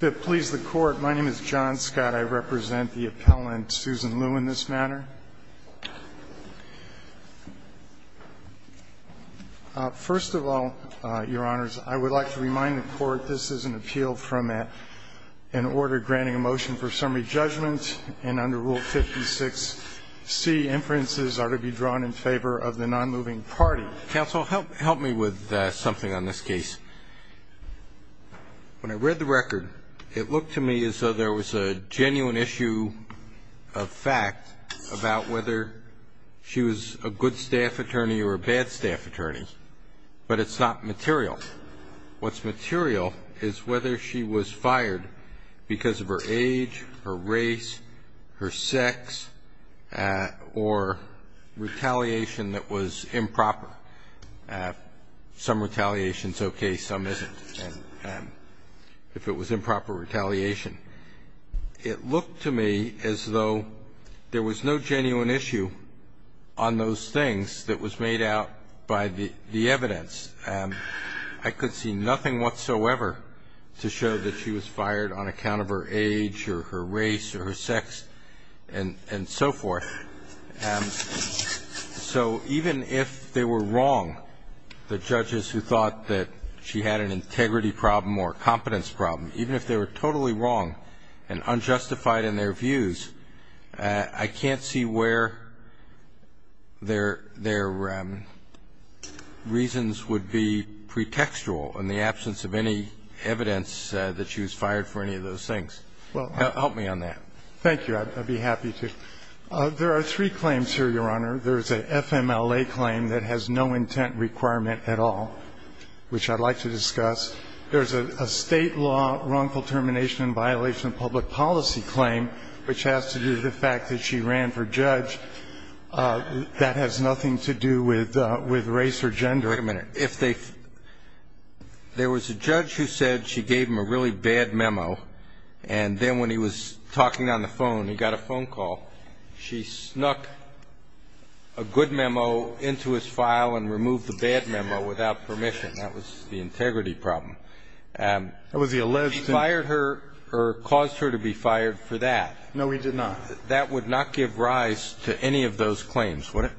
to please the court my name is John Scott I represent the appellant Susan Lew in this matter first of all your honors I would like to remind the court this is an appeal from an order granting a motion for summary judgment and under rule 56 C inferences are to be drawn in favor of the non-moving party counsel help help me with something on this case when I read the record it looked to me as though there was a genuine issue of fact about whether she was a good staff attorney or a bad staff attorney but it's not material what's material is whether she was fired because of her age her race her sex or retaliation that was improper some retaliation is okay some isn't if it was improper retaliation it looked to me as though there was no genuine issue on those things that was made out by the evidence I could see nothing whatsoever to show that she was fired on account of her age or her race or her sex and and so forth so even if they were wrong the judges who thought that she had an integrity problem or competence problem even if they were totally wrong and unjustified in their views I can't see where their their reasons would be pretextual in the absence of any evidence that she was fired for any of those things well help me on that thank you I'd be happy to there are three claims here your honor there's a FMLA claim that has no intent requirement at all which I'd like to discuss there's a state law wrongful termination and violation of public policy claim which has to do the fact that she ran for judge that has nothing to do with with race or gender wait a minute if they there was a judge who said she had a really bad memo and then when he was talking on the phone he got a phone call she snuck a good memo into his file and removed the bad memo without permission that was the integrity problem and was he alleged to fire her or caused her to be fired for that no he did not that would not give rise to any of those claims would it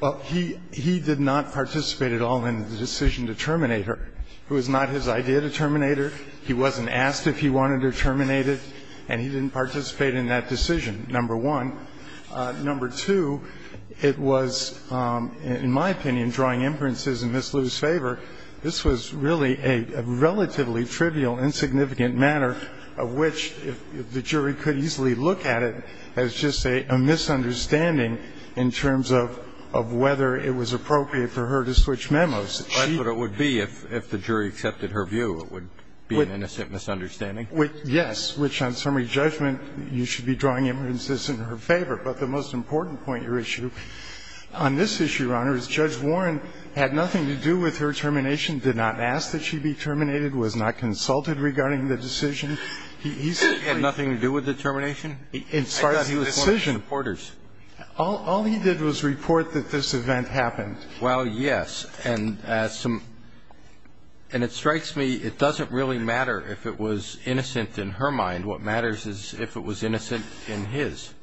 well he he did not participate at all in the decision to terminate her it was not his idea to terminate her he wasn't asked if he wanted her terminated and he didn't participate in that decision number one number two it was in my opinion drawing inferences in Ms. Liu's favor this was really a relatively trivial insignificant matter of which if the jury could easily look at it as just a misunderstanding in terms of of whether it was appropriate for her to switch memos she but it would be if if the jury accepted her view it would be an innocent misunderstanding yes which on summary judgment you should be drawing inferences in her favor but the most important point your issue on this issue your honor is judge Warren had nothing to do with her termination did not ask that she be terminated was not consulted regarding the decision he had nothing to do with the termination in part he was supporters all he did was report that this event happened well yes and as some and it strikes me it doesn't really matter if it was innocent in her mind what matters is if it was innocent in his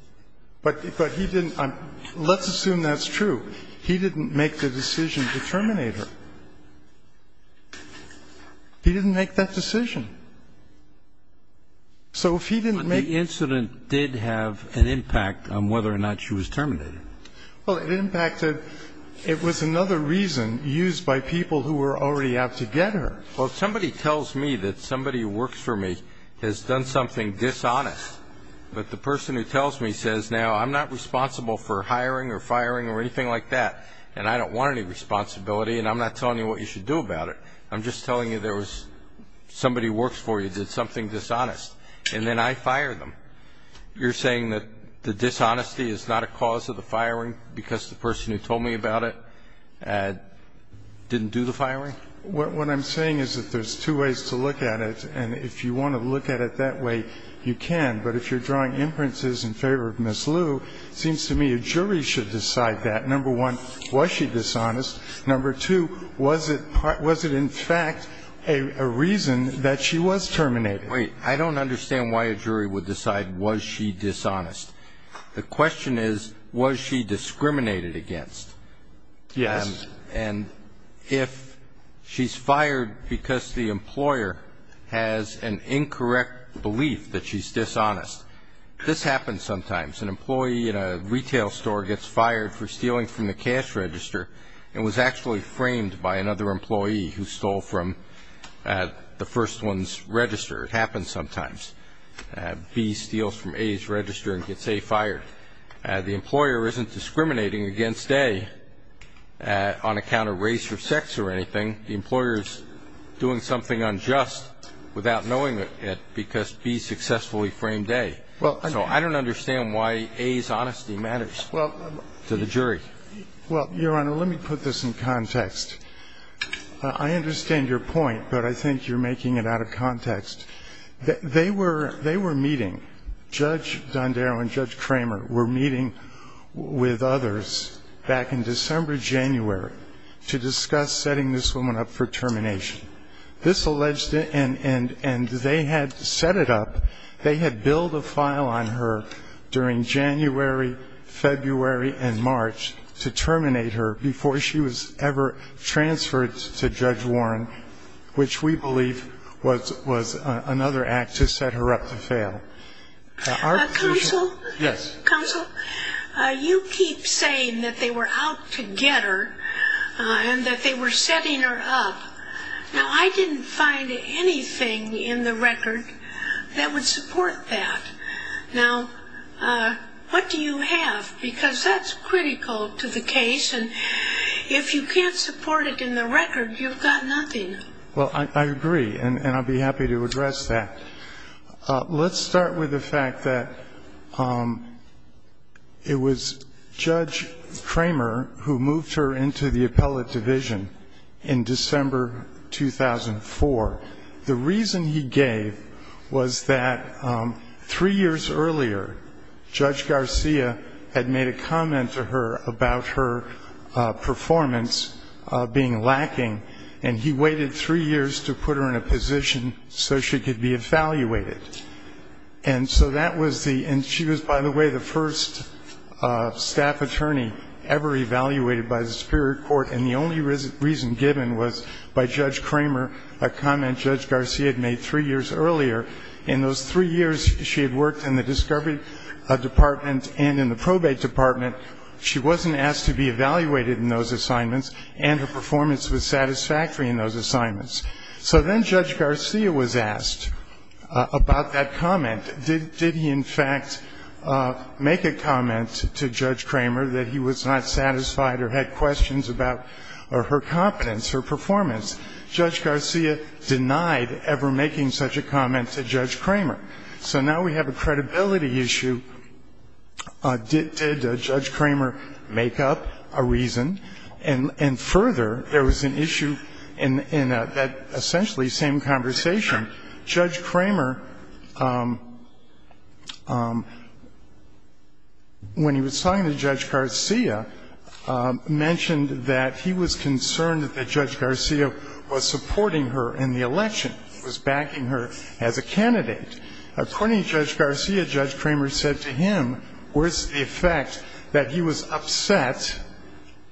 but but he didn't I'm let's assume that's true he didn't make the decision to terminate her he didn't make that decision so if he didn't make the incident did have an impact on whether or not she was terminated well in the case of the it impacted it was another reason used by people who were already out to get her well somebody tells me that somebody works for me has done something dishonest but the person who tells me says now I'm not responsible for hiring or firing or anything like that and I don't want any responsibility and I'm not telling you what you should do about it I'm just telling you there was somebody works for you did something dishonest and then I fire them you're saying that the dishonesty is not a cause of the firing because the person who told me about it and didn't do the firing what what I'm saying is that there's two ways to look at it and if you want to look at it that way you can but if you're drawing inferences in favor of Miss Lou seems to me a jury should decide that number one was she dishonest number two was it was it in fact a reason that she was terminated wait I don't understand why a jury would decide was she dishonest the question is was she discriminated against yes and if she's fired because the employer has an incorrect belief that she's dishonest this happens sometimes an employee in a retail store gets fired for stealing from the cash register and was actually framed by another employee who stole from the first one's register it happens sometimes B steals from A's register and gets A fired the employer isn't discriminating against A on account of race or sex or anything the employers doing something unjust without knowing it because B successfully framed A well I don't understand why A's honesty matters to the jury well your honor let me put this in context I understand your point but I think you're making it out of context they were meeting Judge Dondero and Judge Kramer were meeting with others back in December January to discuss setting this woman up for termination this alleged and they had set it up they had billed a file on her during January February and March to terminate her before she was ever transferred to Judge Warren which we believe was another act to set her up to fail counsel you keep saying that they were out to get her and that they were setting her up now I didn't find anything in the record that would support that now what do you have because that's critical to the case and if you can't support it in the record you've got nothing well I agree and I'd be happy to address that let's start with the fact that it was Judge Kramer who moved her into the appellate division in December 2004 the reason he gave was that three years earlier Judge Garcia had made a comment to her about her performance being lacking and he waited three years to put her in a position so she could be evaluated and so that was the and she was by the way the first staff attorney ever evaluated by the Superior Court and the only reason reason given was by Judge Kramer a comment Judge Garcia had made three years earlier in those three years she had worked in the discovery department and in the probate department she wasn't asked to be evaluated in those assignments and her performance was satisfactory in those assignments so then Judge Garcia was asked about that comment did he in fact make a comment to Judge Kramer that he was not satisfied or had questions about her competence her performance Judge Garcia denied ever making such a comment to Judge Kramer so now we have a credibility issue did Judge Kramer make up a reason and and further there was an issue in that essentially same conversation Judge Kramer when he was talking to Judge Garcia mentioned that he was concerned that Judge Garcia was supporting her in the election was backing her as a candidate according to Judge Garcia Judge Kramer said to him where's the effect that he was upset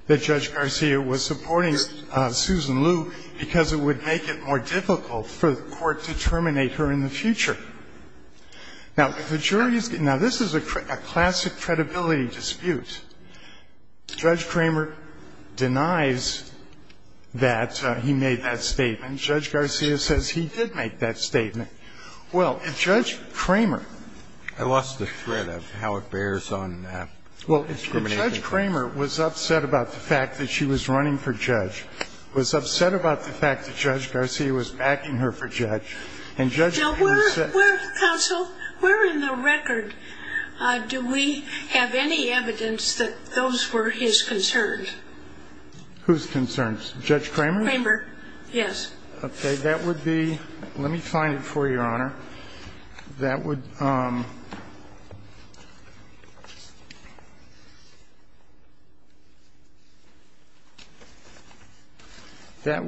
that Judge Garcia was supporting Susan Lou because it would make it more difficult for the court to terminate her in the future now the jury's now this is a classic credibility dispute Judge Kramer denies that he made that statement Judge Garcia says he did make that statement well if Judge Kramer I lost the thread of how it bears on that well if Judge Kramer was upset about the fact that she was running for judge was upset about the fact that Judge Garcia was backing her for judge and With whose concerns judge Kramer yes okay that would be let me find it for your honor that would That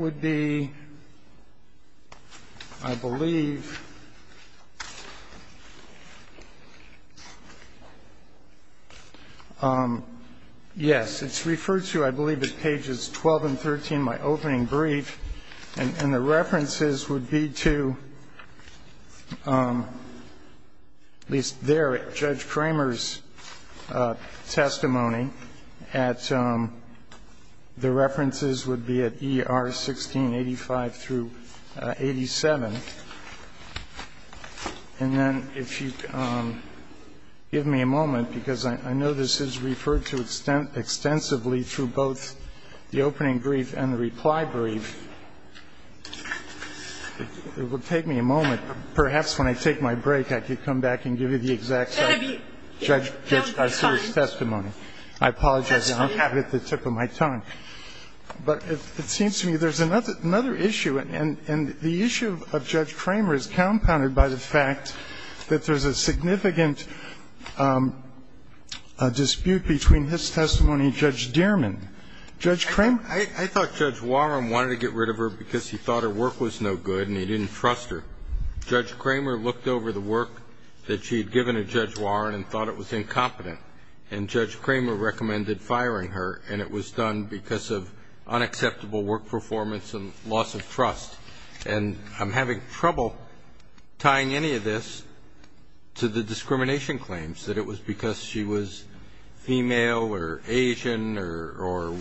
I believe Yes It's referred to I believe at pages 12 and 13 my opening brief and and the references would be to At least there at judge Kramer's Testimony at the references would be at ER 1685 through 87 and Then if you Give me a moment because I know this is referred to extent extensively through both the opening brief and the reply brief It would take me a moment perhaps when I take my break I could come back and give you the exact Judge Testimony, I apologize. I don't have it at the tip of my tongue But it seems to me there's another another issue and and the issue of judge Kramer is compounded by the fact That there's a significant Dispute between his testimony judge Dierman judge Kramer I thought judge Warren wanted to get rid of her because he thought her work was no good and he didn't trust her Judge Kramer looked over the work that she had given a judge Warren and thought it was incompetent and judge Kramer recommended firing her and it was done because of unacceptable work performance and loss of trust and I'm having trouble Tying any of this to the discrimination claims that it was because she was female or Asian or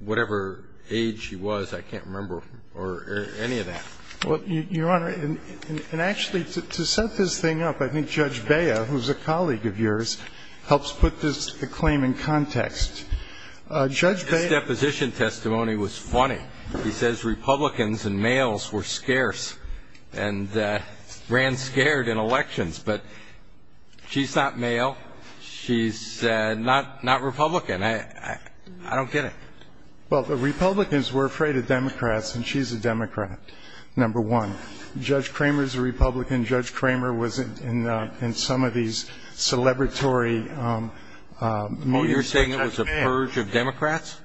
Whatever age she was I can't remember or any of that Well your honor and actually to set this thing up I think judge Baya, who's a colleague of yours helps put this claim in context Judge that position testimony was funny. He says Republicans and males were scarce and ran scared in elections, but She's not male. She's Not not Republican. I I don't get it. Well, the Republicans were afraid of Democrats and she's a Democrat Number one judge Kramer's a Republican judge Kramer wasn't in in some of these celebratory More you're saying it was a purge of Democrats.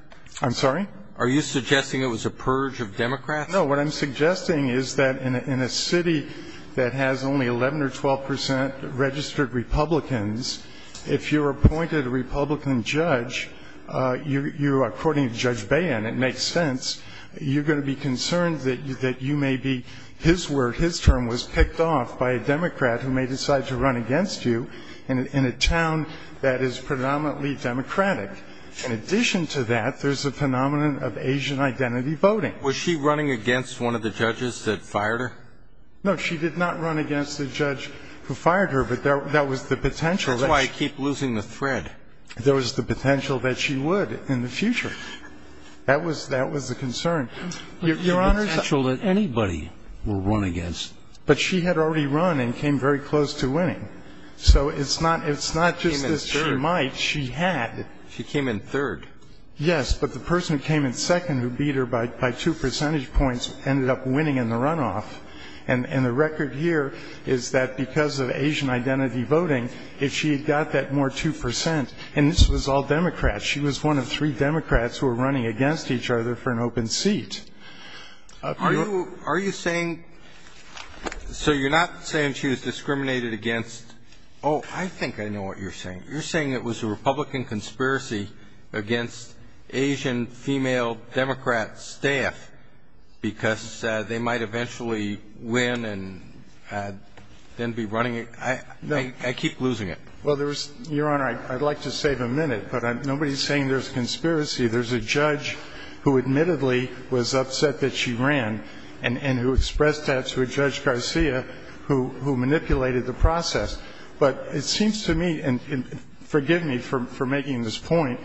I'm sorry. Are you suggesting it was a purge of Democrats? No, what I'm suggesting is that in a city that has only 11 or 12 percent registered Republicans if you're appointed a Republican judge You you according to judge Bayan it makes sense You're going to be concerned that you that you may be His word his term was picked off by a Democrat who may decide to run against you and in a town That is predominantly Democratic in addition to that. There's a phenomenon of Asian identity voting Was she running against one of the judges that fired her? No, she did not run against the judge who fired her But there that was the potential that I keep losing the thread. There was the potential that she would in the future That was that was the concern Your honor's actual that anybody will run against but she had already run and came very close to winning So it's not it's not just as she might she had she came in third Yes, but the person who came in second who beat her bike by two percentage points ended up winning in the runoff and And the record here is that because of Asian identity voting if she had got that more 2% and this was all Democrats She was one of three Democrats who were running against each other for an open seat Are you saying So you're not saying she was discriminated against. Oh, I think I know what you're saying. You're saying it was a Republican conspiracy against Asian female Democrats staff because they might eventually win and Then be running it. I know I keep losing it. Well, there was your honor I'd like to save a minute, but I'm nobody's saying there's conspiracy There's a judge who admittedly was upset that she ran and and who expressed that to a judge Garcia Who who manipulated the process but it seems to me and forgive me for making this point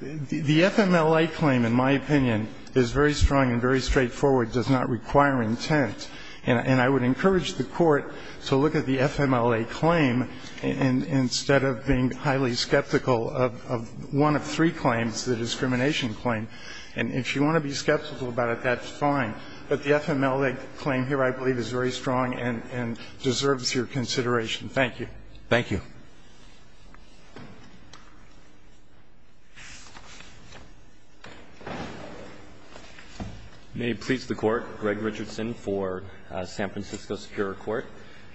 The FMLA claim in my opinion is very strong and very straightforward does not require intent and and I would encourage the court to look at the FMLA claim and Instead of being highly skeptical of one of three claims the discrimination claim And if you want to be skeptical about it, that's fine. But the FMLA claim here I believe is very strong and and deserves your consideration. Thank you. Thank you You May please the court Greg Richardson for San Francisco Superior Court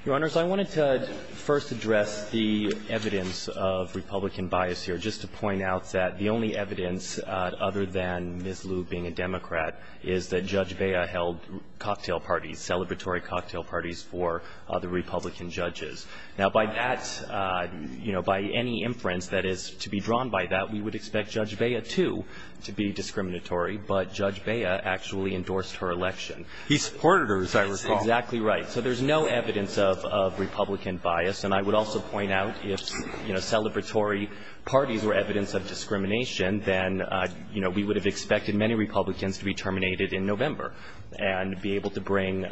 your honors I wanted to first address the evidence of Republican bias here just to point out that the only evidence Other than miss Lou being a Democrat is that judge Baya held? Cocktail parties celebratory cocktail parties for the Republican judges now by that You know by any inference that is to be drawn by that we would expect judge Baya to to be discriminatory But judge Baya actually endorsed her election. He supported her as I recall exactly, right? so there's no evidence of Republican bias and I would also point out if you know celebratory parties were evidence of Discrimination then, you know, we would have expected many Republicans to be terminated in November and be able to bring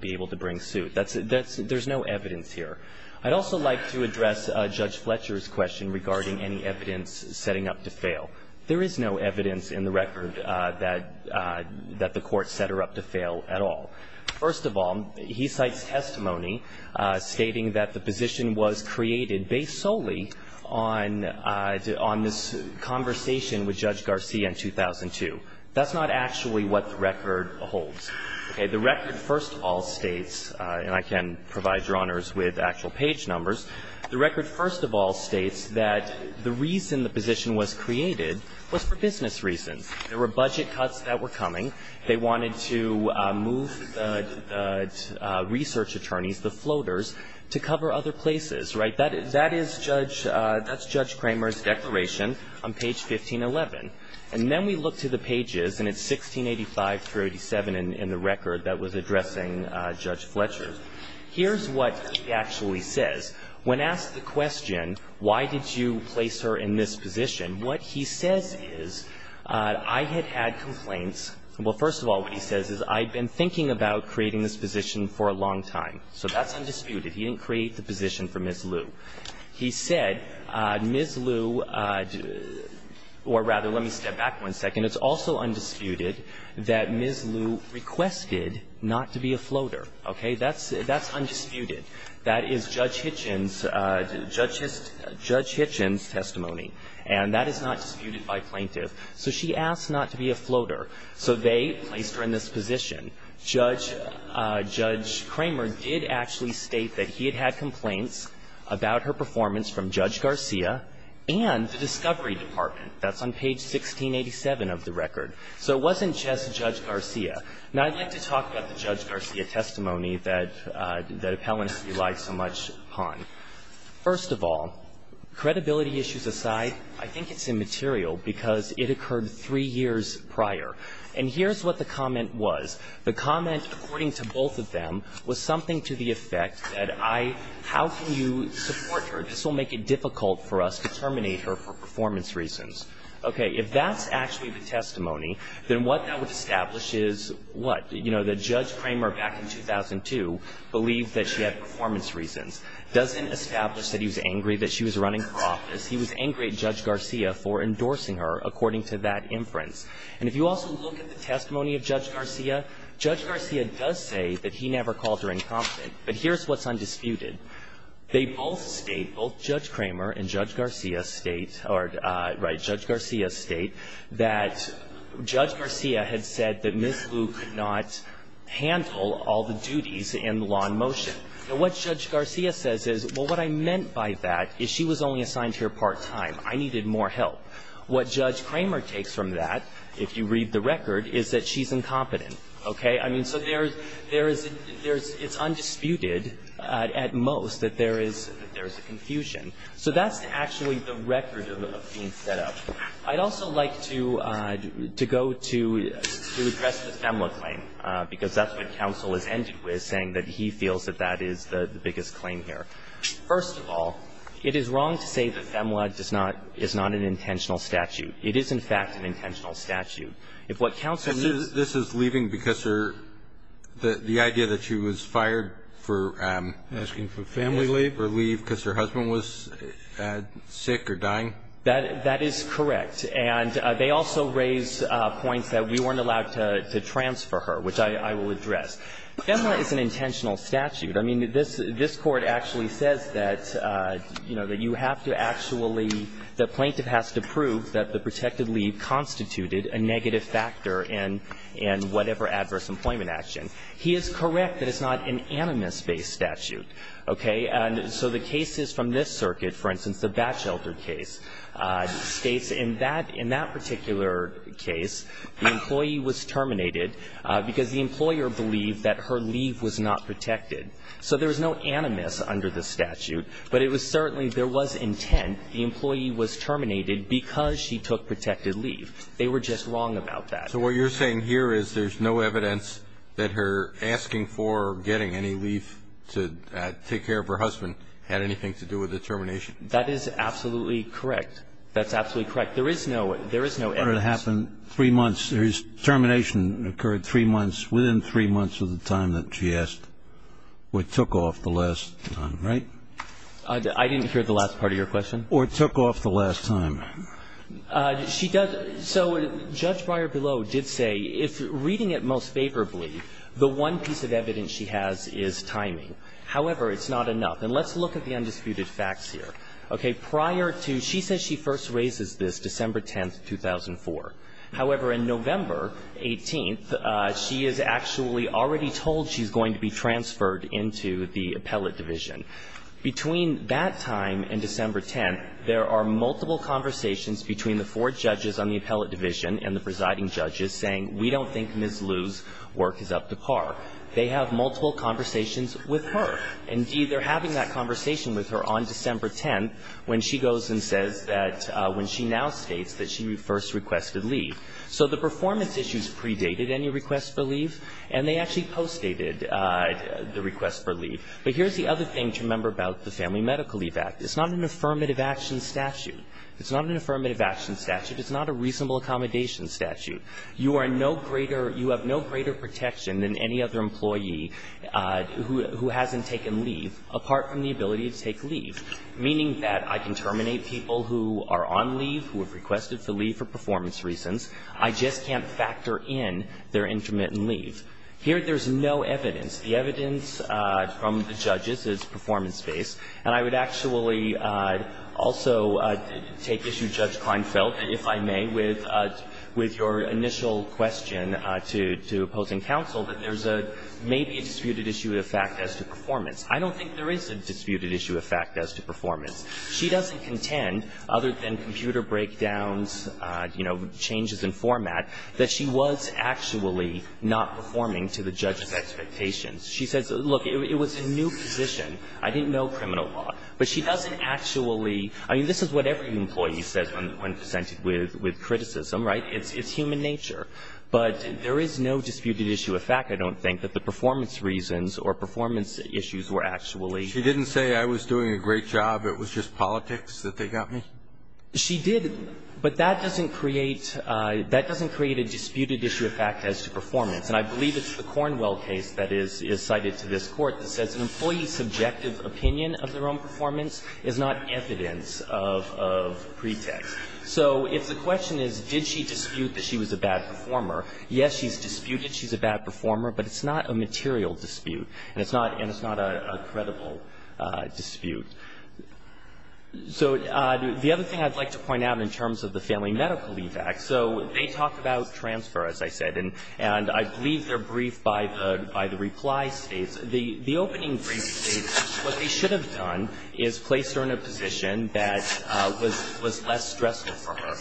be able to bring suit That's that's there's no evidence here. I'd also like to address judge Fletcher's question regarding any evidence setting up to fail There is no evidence in the record that That the court set her up to fail at all. First of all, he cites testimony Stating that the position was created based solely on on this Conversation with judge Garcia in 2002. That's not actually what the record holds Okay, the record first of all states and I can provide your honors with actual page numbers The record first of all states that the reason the position was created was for business reasons There were budget cuts that were coming. They wanted to move Research attorneys the floaters to cover other places, right? That is that is judge that's judge Kramer's declaration on page 1511 And then we look to the pages and it's 1685 through 87 and in the record that was addressing judge Fletcher Here's what he actually says when asked the question. Why did you place her in this position? What he says is I had had complaints Well, first of all, what he says is I've been thinking about creating this position for a long time. So that's undisputed He didn't create the position for Miss Liu. He said Miss Liu Or rather, let me step back one second. It's also undisputed that Miss Liu Requested not to be a floater. Okay, that's that's undisputed. That is judge Hitchens Judge just judge Hitchens testimony and that is not disputed by plaintiff So she asked not to be a floater. So they placed her in this position judge judge Kramer did actually state that he had had complaints about her performance from judge Garcia and Discovery Department, that's on page 1687 of the record. So it wasn't just judge Garcia now I'd like to talk about the judge Garcia testimony that that appellants rely so much upon first of all Credibility issues aside. I think it's immaterial because it occurred three years prior and here's what the comment was The comment according to both of them was something to the effect that I how can you support her? This will make it difficult for us to terminate her for performance reasons Okay, if that's actually the testimony then what that would establish is what you know the judge Kramer back in 2002 Believed that she had performance reasons doesn't establish that he was angry that she was running for office He was angry at judge Garcia for endorsing her according to that inference And if you also look at the testimony of judge Garcia judge Garcia does say that he never called her incompetent But here's what's undisputed they both state both judge Kramer and judge Garcia state or right judge Garcia state that Judge Garcia had said that miss Lou could not Handle all the duties in the law in motion So what judge Garcia says is well what I meant by that is she was only assigned here part-time I needed more help what judge Kramer takes from that if you read the record is that she's incompetent Okay I mean so there's there isn't there's it's undisputed at most that there is there's a confusion So that's actually the record of being set up. I'd also like to to go to Because that's what counsel is ended with saying that he feels that that is the biggest claim here First of all, it is wrong to say the FEMLA does not it's not an intentional statute It is in fact an intentional statute if what counsel this is leaving because her the the idea that she was fired for Asking for family leave or leave because her husband was Sick or dying that that is correct And they also raise points that we weren't allowed to transfer her which I I will address FEMLA is an intentional statute. I mean this this court actually says that You know that you have to actually the plaintiff has to prove that the protected leave Constituted a negative factor in in whatever adverse employment action. He is correct that it's not an animus based statute Okay, and so the case is from this circuit for instance the batch elder case States in that in that particular case The employee was terminated because the employer believed that her leave was not protected So there was no animus under the statute But it was certainly there was intent the employee was terminated because she took protected leave They were just wrong about that so what you're saying here is there's no evidence that her asking for getting any leave to Take care of her husband had anything to do with the termination. That is absolutely correct. That's absolutely correct There is no there is no ever to happen three months There's termination occurred three months within three months of the time that she asked What took off the last time right? I didn't hear the last part of your question or took off the last time She does so judge Breyer below did say if reading it most favorably the one piece of evidence She has is timing. However, it's not enough and let's look at the undisputed facts here Okay prior to she says she first raises this December 10th 2004 however in November 18th She is actually already told she's going to be transferred into the appellate division Between that time and December 10th There are multiple conversations between the four judges on the appellate division and the presiding judges saying we don't think miss lose Work is up to par. They have multiple conversations with her Indeed, they're having that conversation with her on December 10th When she goes and says that when she now states that she first requested leave So the performance issues predated any requests for leave and they actually post dated The request for leave but here's the other thing to remember about the family medical leave act. It's not an affirmative action statute It's not an affirmative action statute. It's not a reasonable accommodation statute You are no greater. You have no greater protection than any other employee Who hasn't taken leave apart from the ability to take leave? Meaning that I can terminate people who are on leave who have requested to leave for performance reasons I just can't factor in their intermittent leave here. There's no evidence the evidence from the judges is performance-based and I would actually also take issue judge Klinefeld if I may with With your initial question to to opposing counsel that there's a maybe a disputed issue of fact as to performance I don't think there is a disputed issue of fact as to performance. She doesn't contend other than computer breakdowns You know changes in format that she was actually not performing to the judge's expectations She says look it was a new position. I didn't know criminal law, but she doesn't actually I mean, this is what every employee says when presented with with criticism, right? It's it's human nature But there is no disputed issue of fact I don't think that the performance reasons or performance issues were actually she didn't say I was doing a great job It was just politics that they got me She did but that doesn't create That doesn't create a disputed issue of fact as to performance and I believe it's the Cornwell case That is is cited to this court that says an employee's subjective opinion of their own performance is not evidence of Pretext. So if the question is did she dispute that she was a bad performer? Yes, she's disputed She's a bad performer, but it's not a material dispute and it's not and it's not a credible dispute So the other thing I'd like to point out in terms of the family medical leave act So they talked about transfer as I said And and I believe they're briefed by the by the reply states the the opening brief What they should have done is placed her in a position. That was was less stressful for her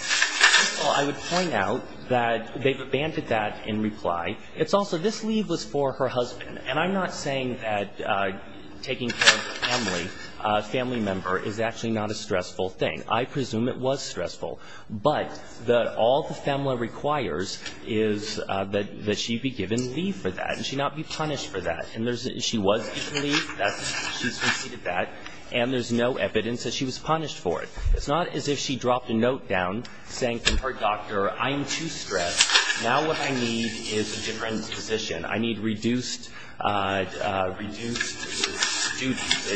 I would point out that they've abandoned that in reply. It's also this leave was for her husband and I'm not saying that Taking care of family family member is actually not a stressful thing I presume it was stressful, but the all the family requires is That that she be given leave for that and she not be punished for that and there's she was And there's no evidence that she was punished for it It's not as if she dropped a note down saying from her doctor. I'm too stressed now What I need is a different position. I need reduced Etc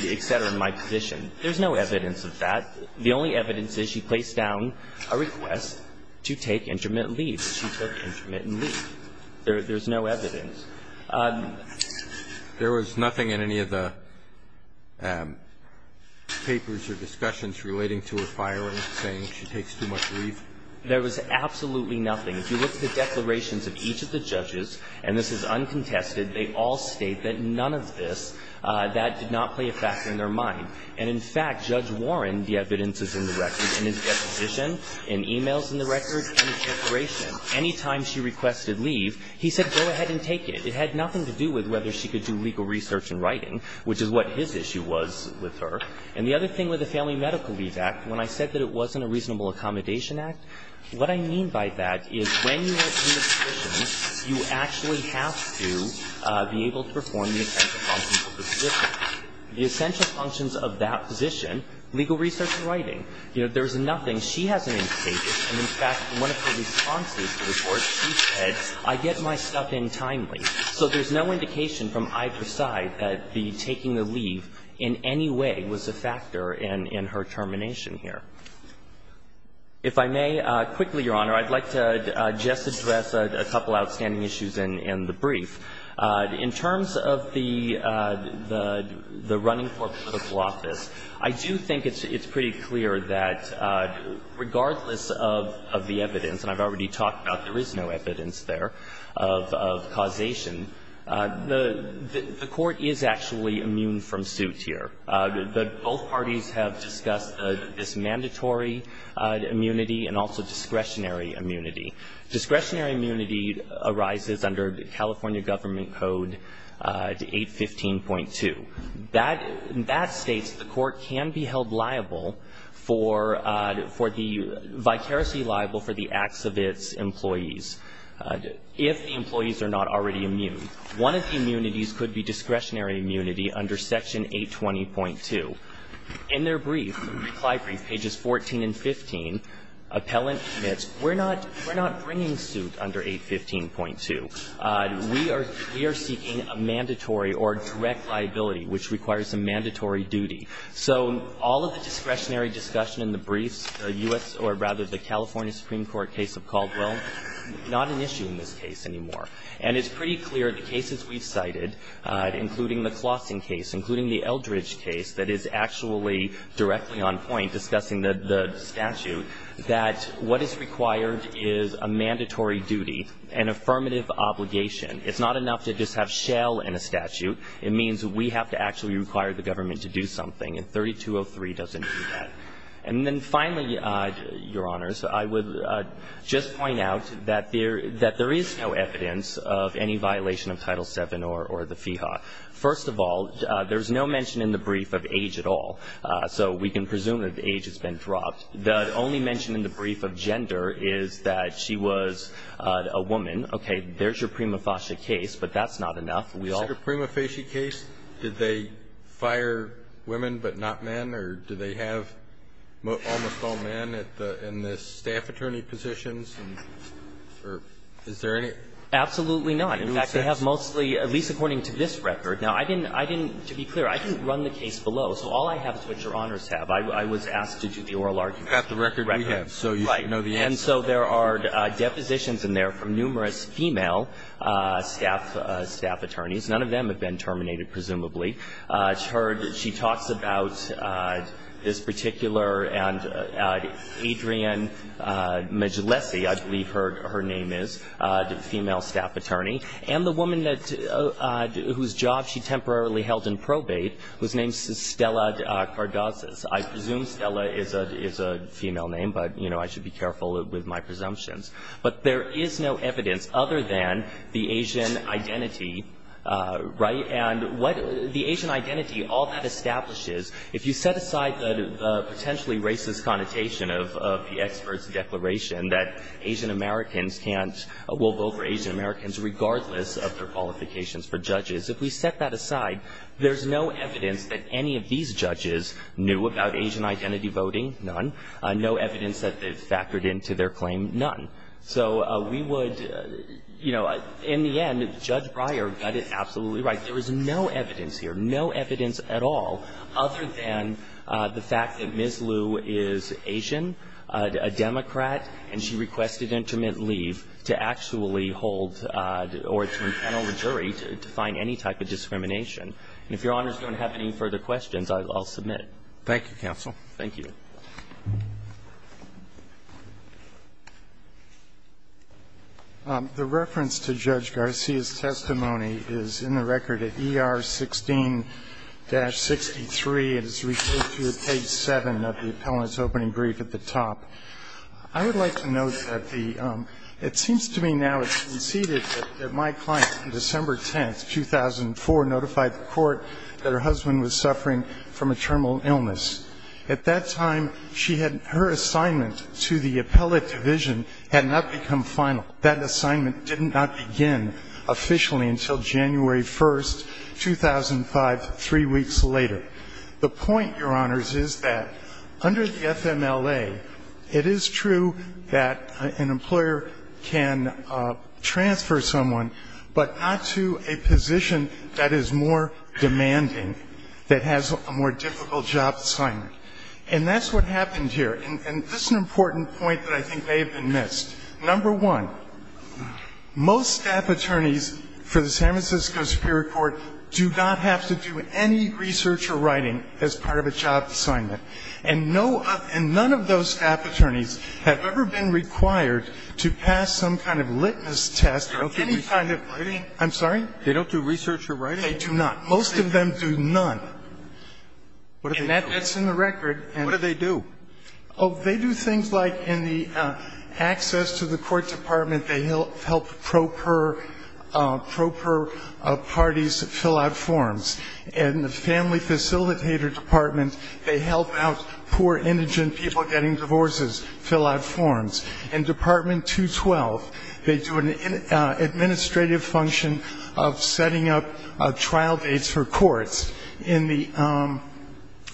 in my position. There's no evidence of that. The only evidence is she placed down a request to take intermittent leave There there's no evidence There was nothing in any of the Papers or discussions relating to a fire and saying she takes too much leave There was absolutely nothing if you look at the declarations of each of the judges and this is uncontested They all state that none of this that did not play a factor in their mind And in fact judge Warren the evidence is in the record and his deposition in emails in the record Anytime she requested leave he said go ahead and take it It had nothing to do with whether she could do legal research and writing Which is what his issue was with her and the other thing with the family medical leave act when I said that it wasn't a reasonable Accommodation act what I mean by that is You actually have to be able to perform The essential functions of that position legal research and writing, you know, there's nothing she hasn't One of the responses I get my stuff in timely So there's no indication from either side that the taking the leave in any way was a factor in in her termination here If I may quickly your honor, I'd like to just address a couple outstanding issues in in the brief in terms of the The running for political office. I do think it's it's pretty clear that Regardless of the evidence and I've already talked about there is no evidence there of causation The the court is actually immune from suits here that both parties have discussed this mandatory Immunity and also discretionary immunity discretionary immunity arises under the California government code to 815 point two that that states the court can be held liable for for the vicariously liable for the acts of its employees If the employees are not already immune one of the immunities could be discretionary immunity under section 820 point two In their brief reply brief pages 14 and 15 Appellant it's we're not we're not bringing suit under 815 point two We are we are seeking a mandatory or direct liability, which requires a mandatory duty So all of the discretionary discussion in the briefs the US or rather the California Supreme Court case of Caldwell Not an issue in this case anymore, and it's pretty clear the cases we've cited Including the Clausen case including the Eldridge case that is actually directly on point discussing the statute That what is required is a mandatory duty an affirmative obligation It's not enough to just have shell in a statute It means we have to actually require the government to do something and 3203 doesn't do that. And then finally your honors I would Just point out that there that there is no evidence of any violation of title 7 or or the FIHA First of all, there's no mention in the brief of age at all So we can presume that the age has been dropped the only mention in the brief of gender is that she was a woman Okay, there's your prima facie case, but that's not enough We are prima facie case. Did they fire women but not men or do they have? almost all men at the in this staff attorney positions and Is there any absolutely not? In fact, they have mostly at least according to this record now I didn't I didn't to be clear. I didn't run the case below So all I have is what your honors have I was asked to do the oral argument at the record We have so you know the end so there are depositions in there from numerous female Staff staff attorneys. None of them have been terminated. Presumably it's heard that she talks about this particular and Adrian Majolisi, I believe her her name is the female staff attorney and the woman that Whose job she temporarily held in probate whose name is Stella Cardoza's I presume Stella is a is a female name, but you know, I should be careful with my presumptions But there is no evidence other than the Asian identity right and what the Asian identity all that establishes if you set aside the potentially racist connotation of the experts declaration that Asian Americans can't will vote for Asian Americans regardless of Qualifications for judges if we set that aside There's no evidence that any of these judges knew about Asian identity voting none No evidence that they've factored into their claim none So we would you know in the end judge Breyer got it. Absolutely, right? There is no evidence here. No evidence at all other than The fact that ms. Liu is Asian a Democrat and she requested intermittent leave to actually hold Or it's an old jury to find any type of discrimination and if your honors don't have any further questions, I'll submit Thank you counsel. Thank you The Reference to judge Garcia's testimony is in the record at er 16 Dash 63 and it's referred to page 7 of the appellant's opening brief at the top I would like to note that the it seems to me now. It's conceded that my client from December 10th 2004 notified the court that her husband was suffering from a terminal illness At that time she had her assignment to the appellate division had not become final that assignment did not begin officially until January 1st 2005 three weeks later the point your honors is that under the FMLA it is true that an employer can Transfer someone but not to a position that is more Demanding that has a more difficult job assignment and that's what happened here And this is an important point that I think they have been missed number one Most staff attorneys for the San Francisco Superior Court do not have to do any Research or writing as part of a job assignment and no and none of those staff attorneys have ever been required To pass some kind of litmus test or any kind of writing. I'm sorry They don't do research or writing do not most of them do none What is that that's in the record and what do they do? Oh, they do things like in the Access to the court department. They help help proper proper parties fill out forms and the family facilitator department They help out poor indigent people getting divorces fill out forms and department 212 they do an Administrative function of setting up a trial dates for courts in the I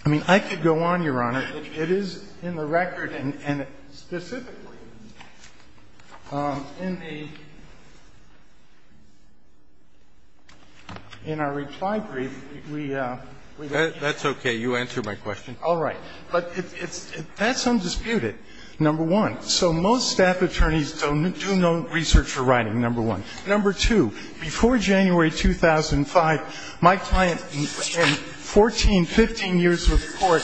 Mean I could go on your honor. It is in the record and In our reply brief we That's okay. You answer my question. All right, but it's that's undisputed Number one, so most staff attorneys don't do no research for writing number one number two before January 2005 my client 14 15 years of court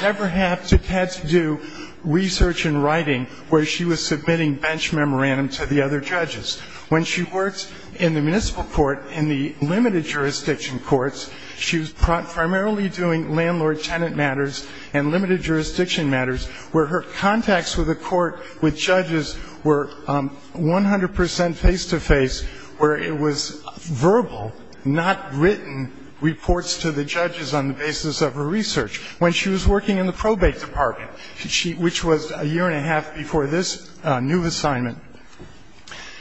Never have to had to do Research and writing where she was submitting bench memorandum to the other judges when she works in the municipal court in the limited jurisdiction courts She was primarily doing landlord-tenant matters and limited jurisdiction matters where her contacts with the court with judges were 100% face-to-face where it was verbal not written Reports to the judges on the basis of her research when she was working in the probate department She which was a year and a half before this new assignment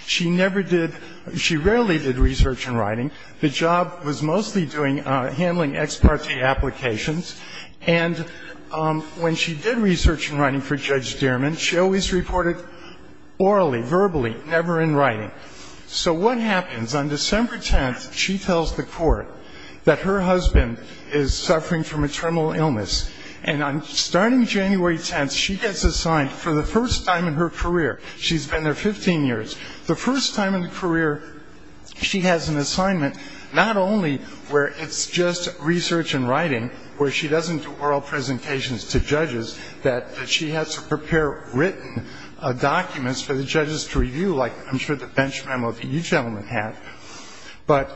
She never did she rarely did research and writing the job was mostly doing handling ex parte applications and When she did research and writing for Judge Dearman, she always reported Orally verbally never in writing. So what happens on December 10th? She tells the court that her husband is suffering from a terminal illness and I'm starting January 10th Assigned for the first time in her career. She's been there 15 years the first time in the career She has an assignment not only where it's just research and writing where she doesn't do oral presentations to judges that she has to prepare written a Documents for the judges to review like I'm sure the bench memo that you gentlemen have But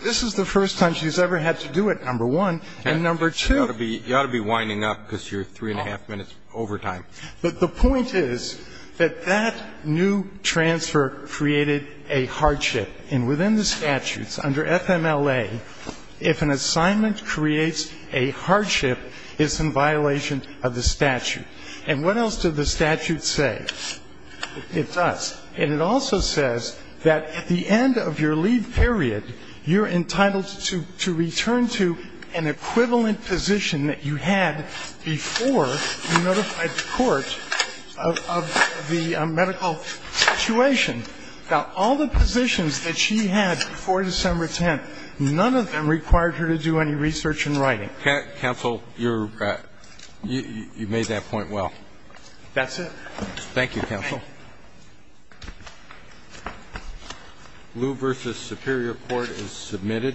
this is the first time she's ever had to do it number one and number two You ought to be winding up because you're three and a half minutes over time But the point is that that new transfer created a hardship and within the statutes under FMLA if an assignment creates a hardship is some violation of the statute and what else did the statute say It does and it also says that at the end of your leave period You're entitled to to return to an equivalent position that you had before notified the court of the medical Situation now all the positions that she had before December 10th None of them required her to do any research and writing. Okay counsel your You made that point. Well, that's it. Thank you counsel Lou versus Superior Court is submitted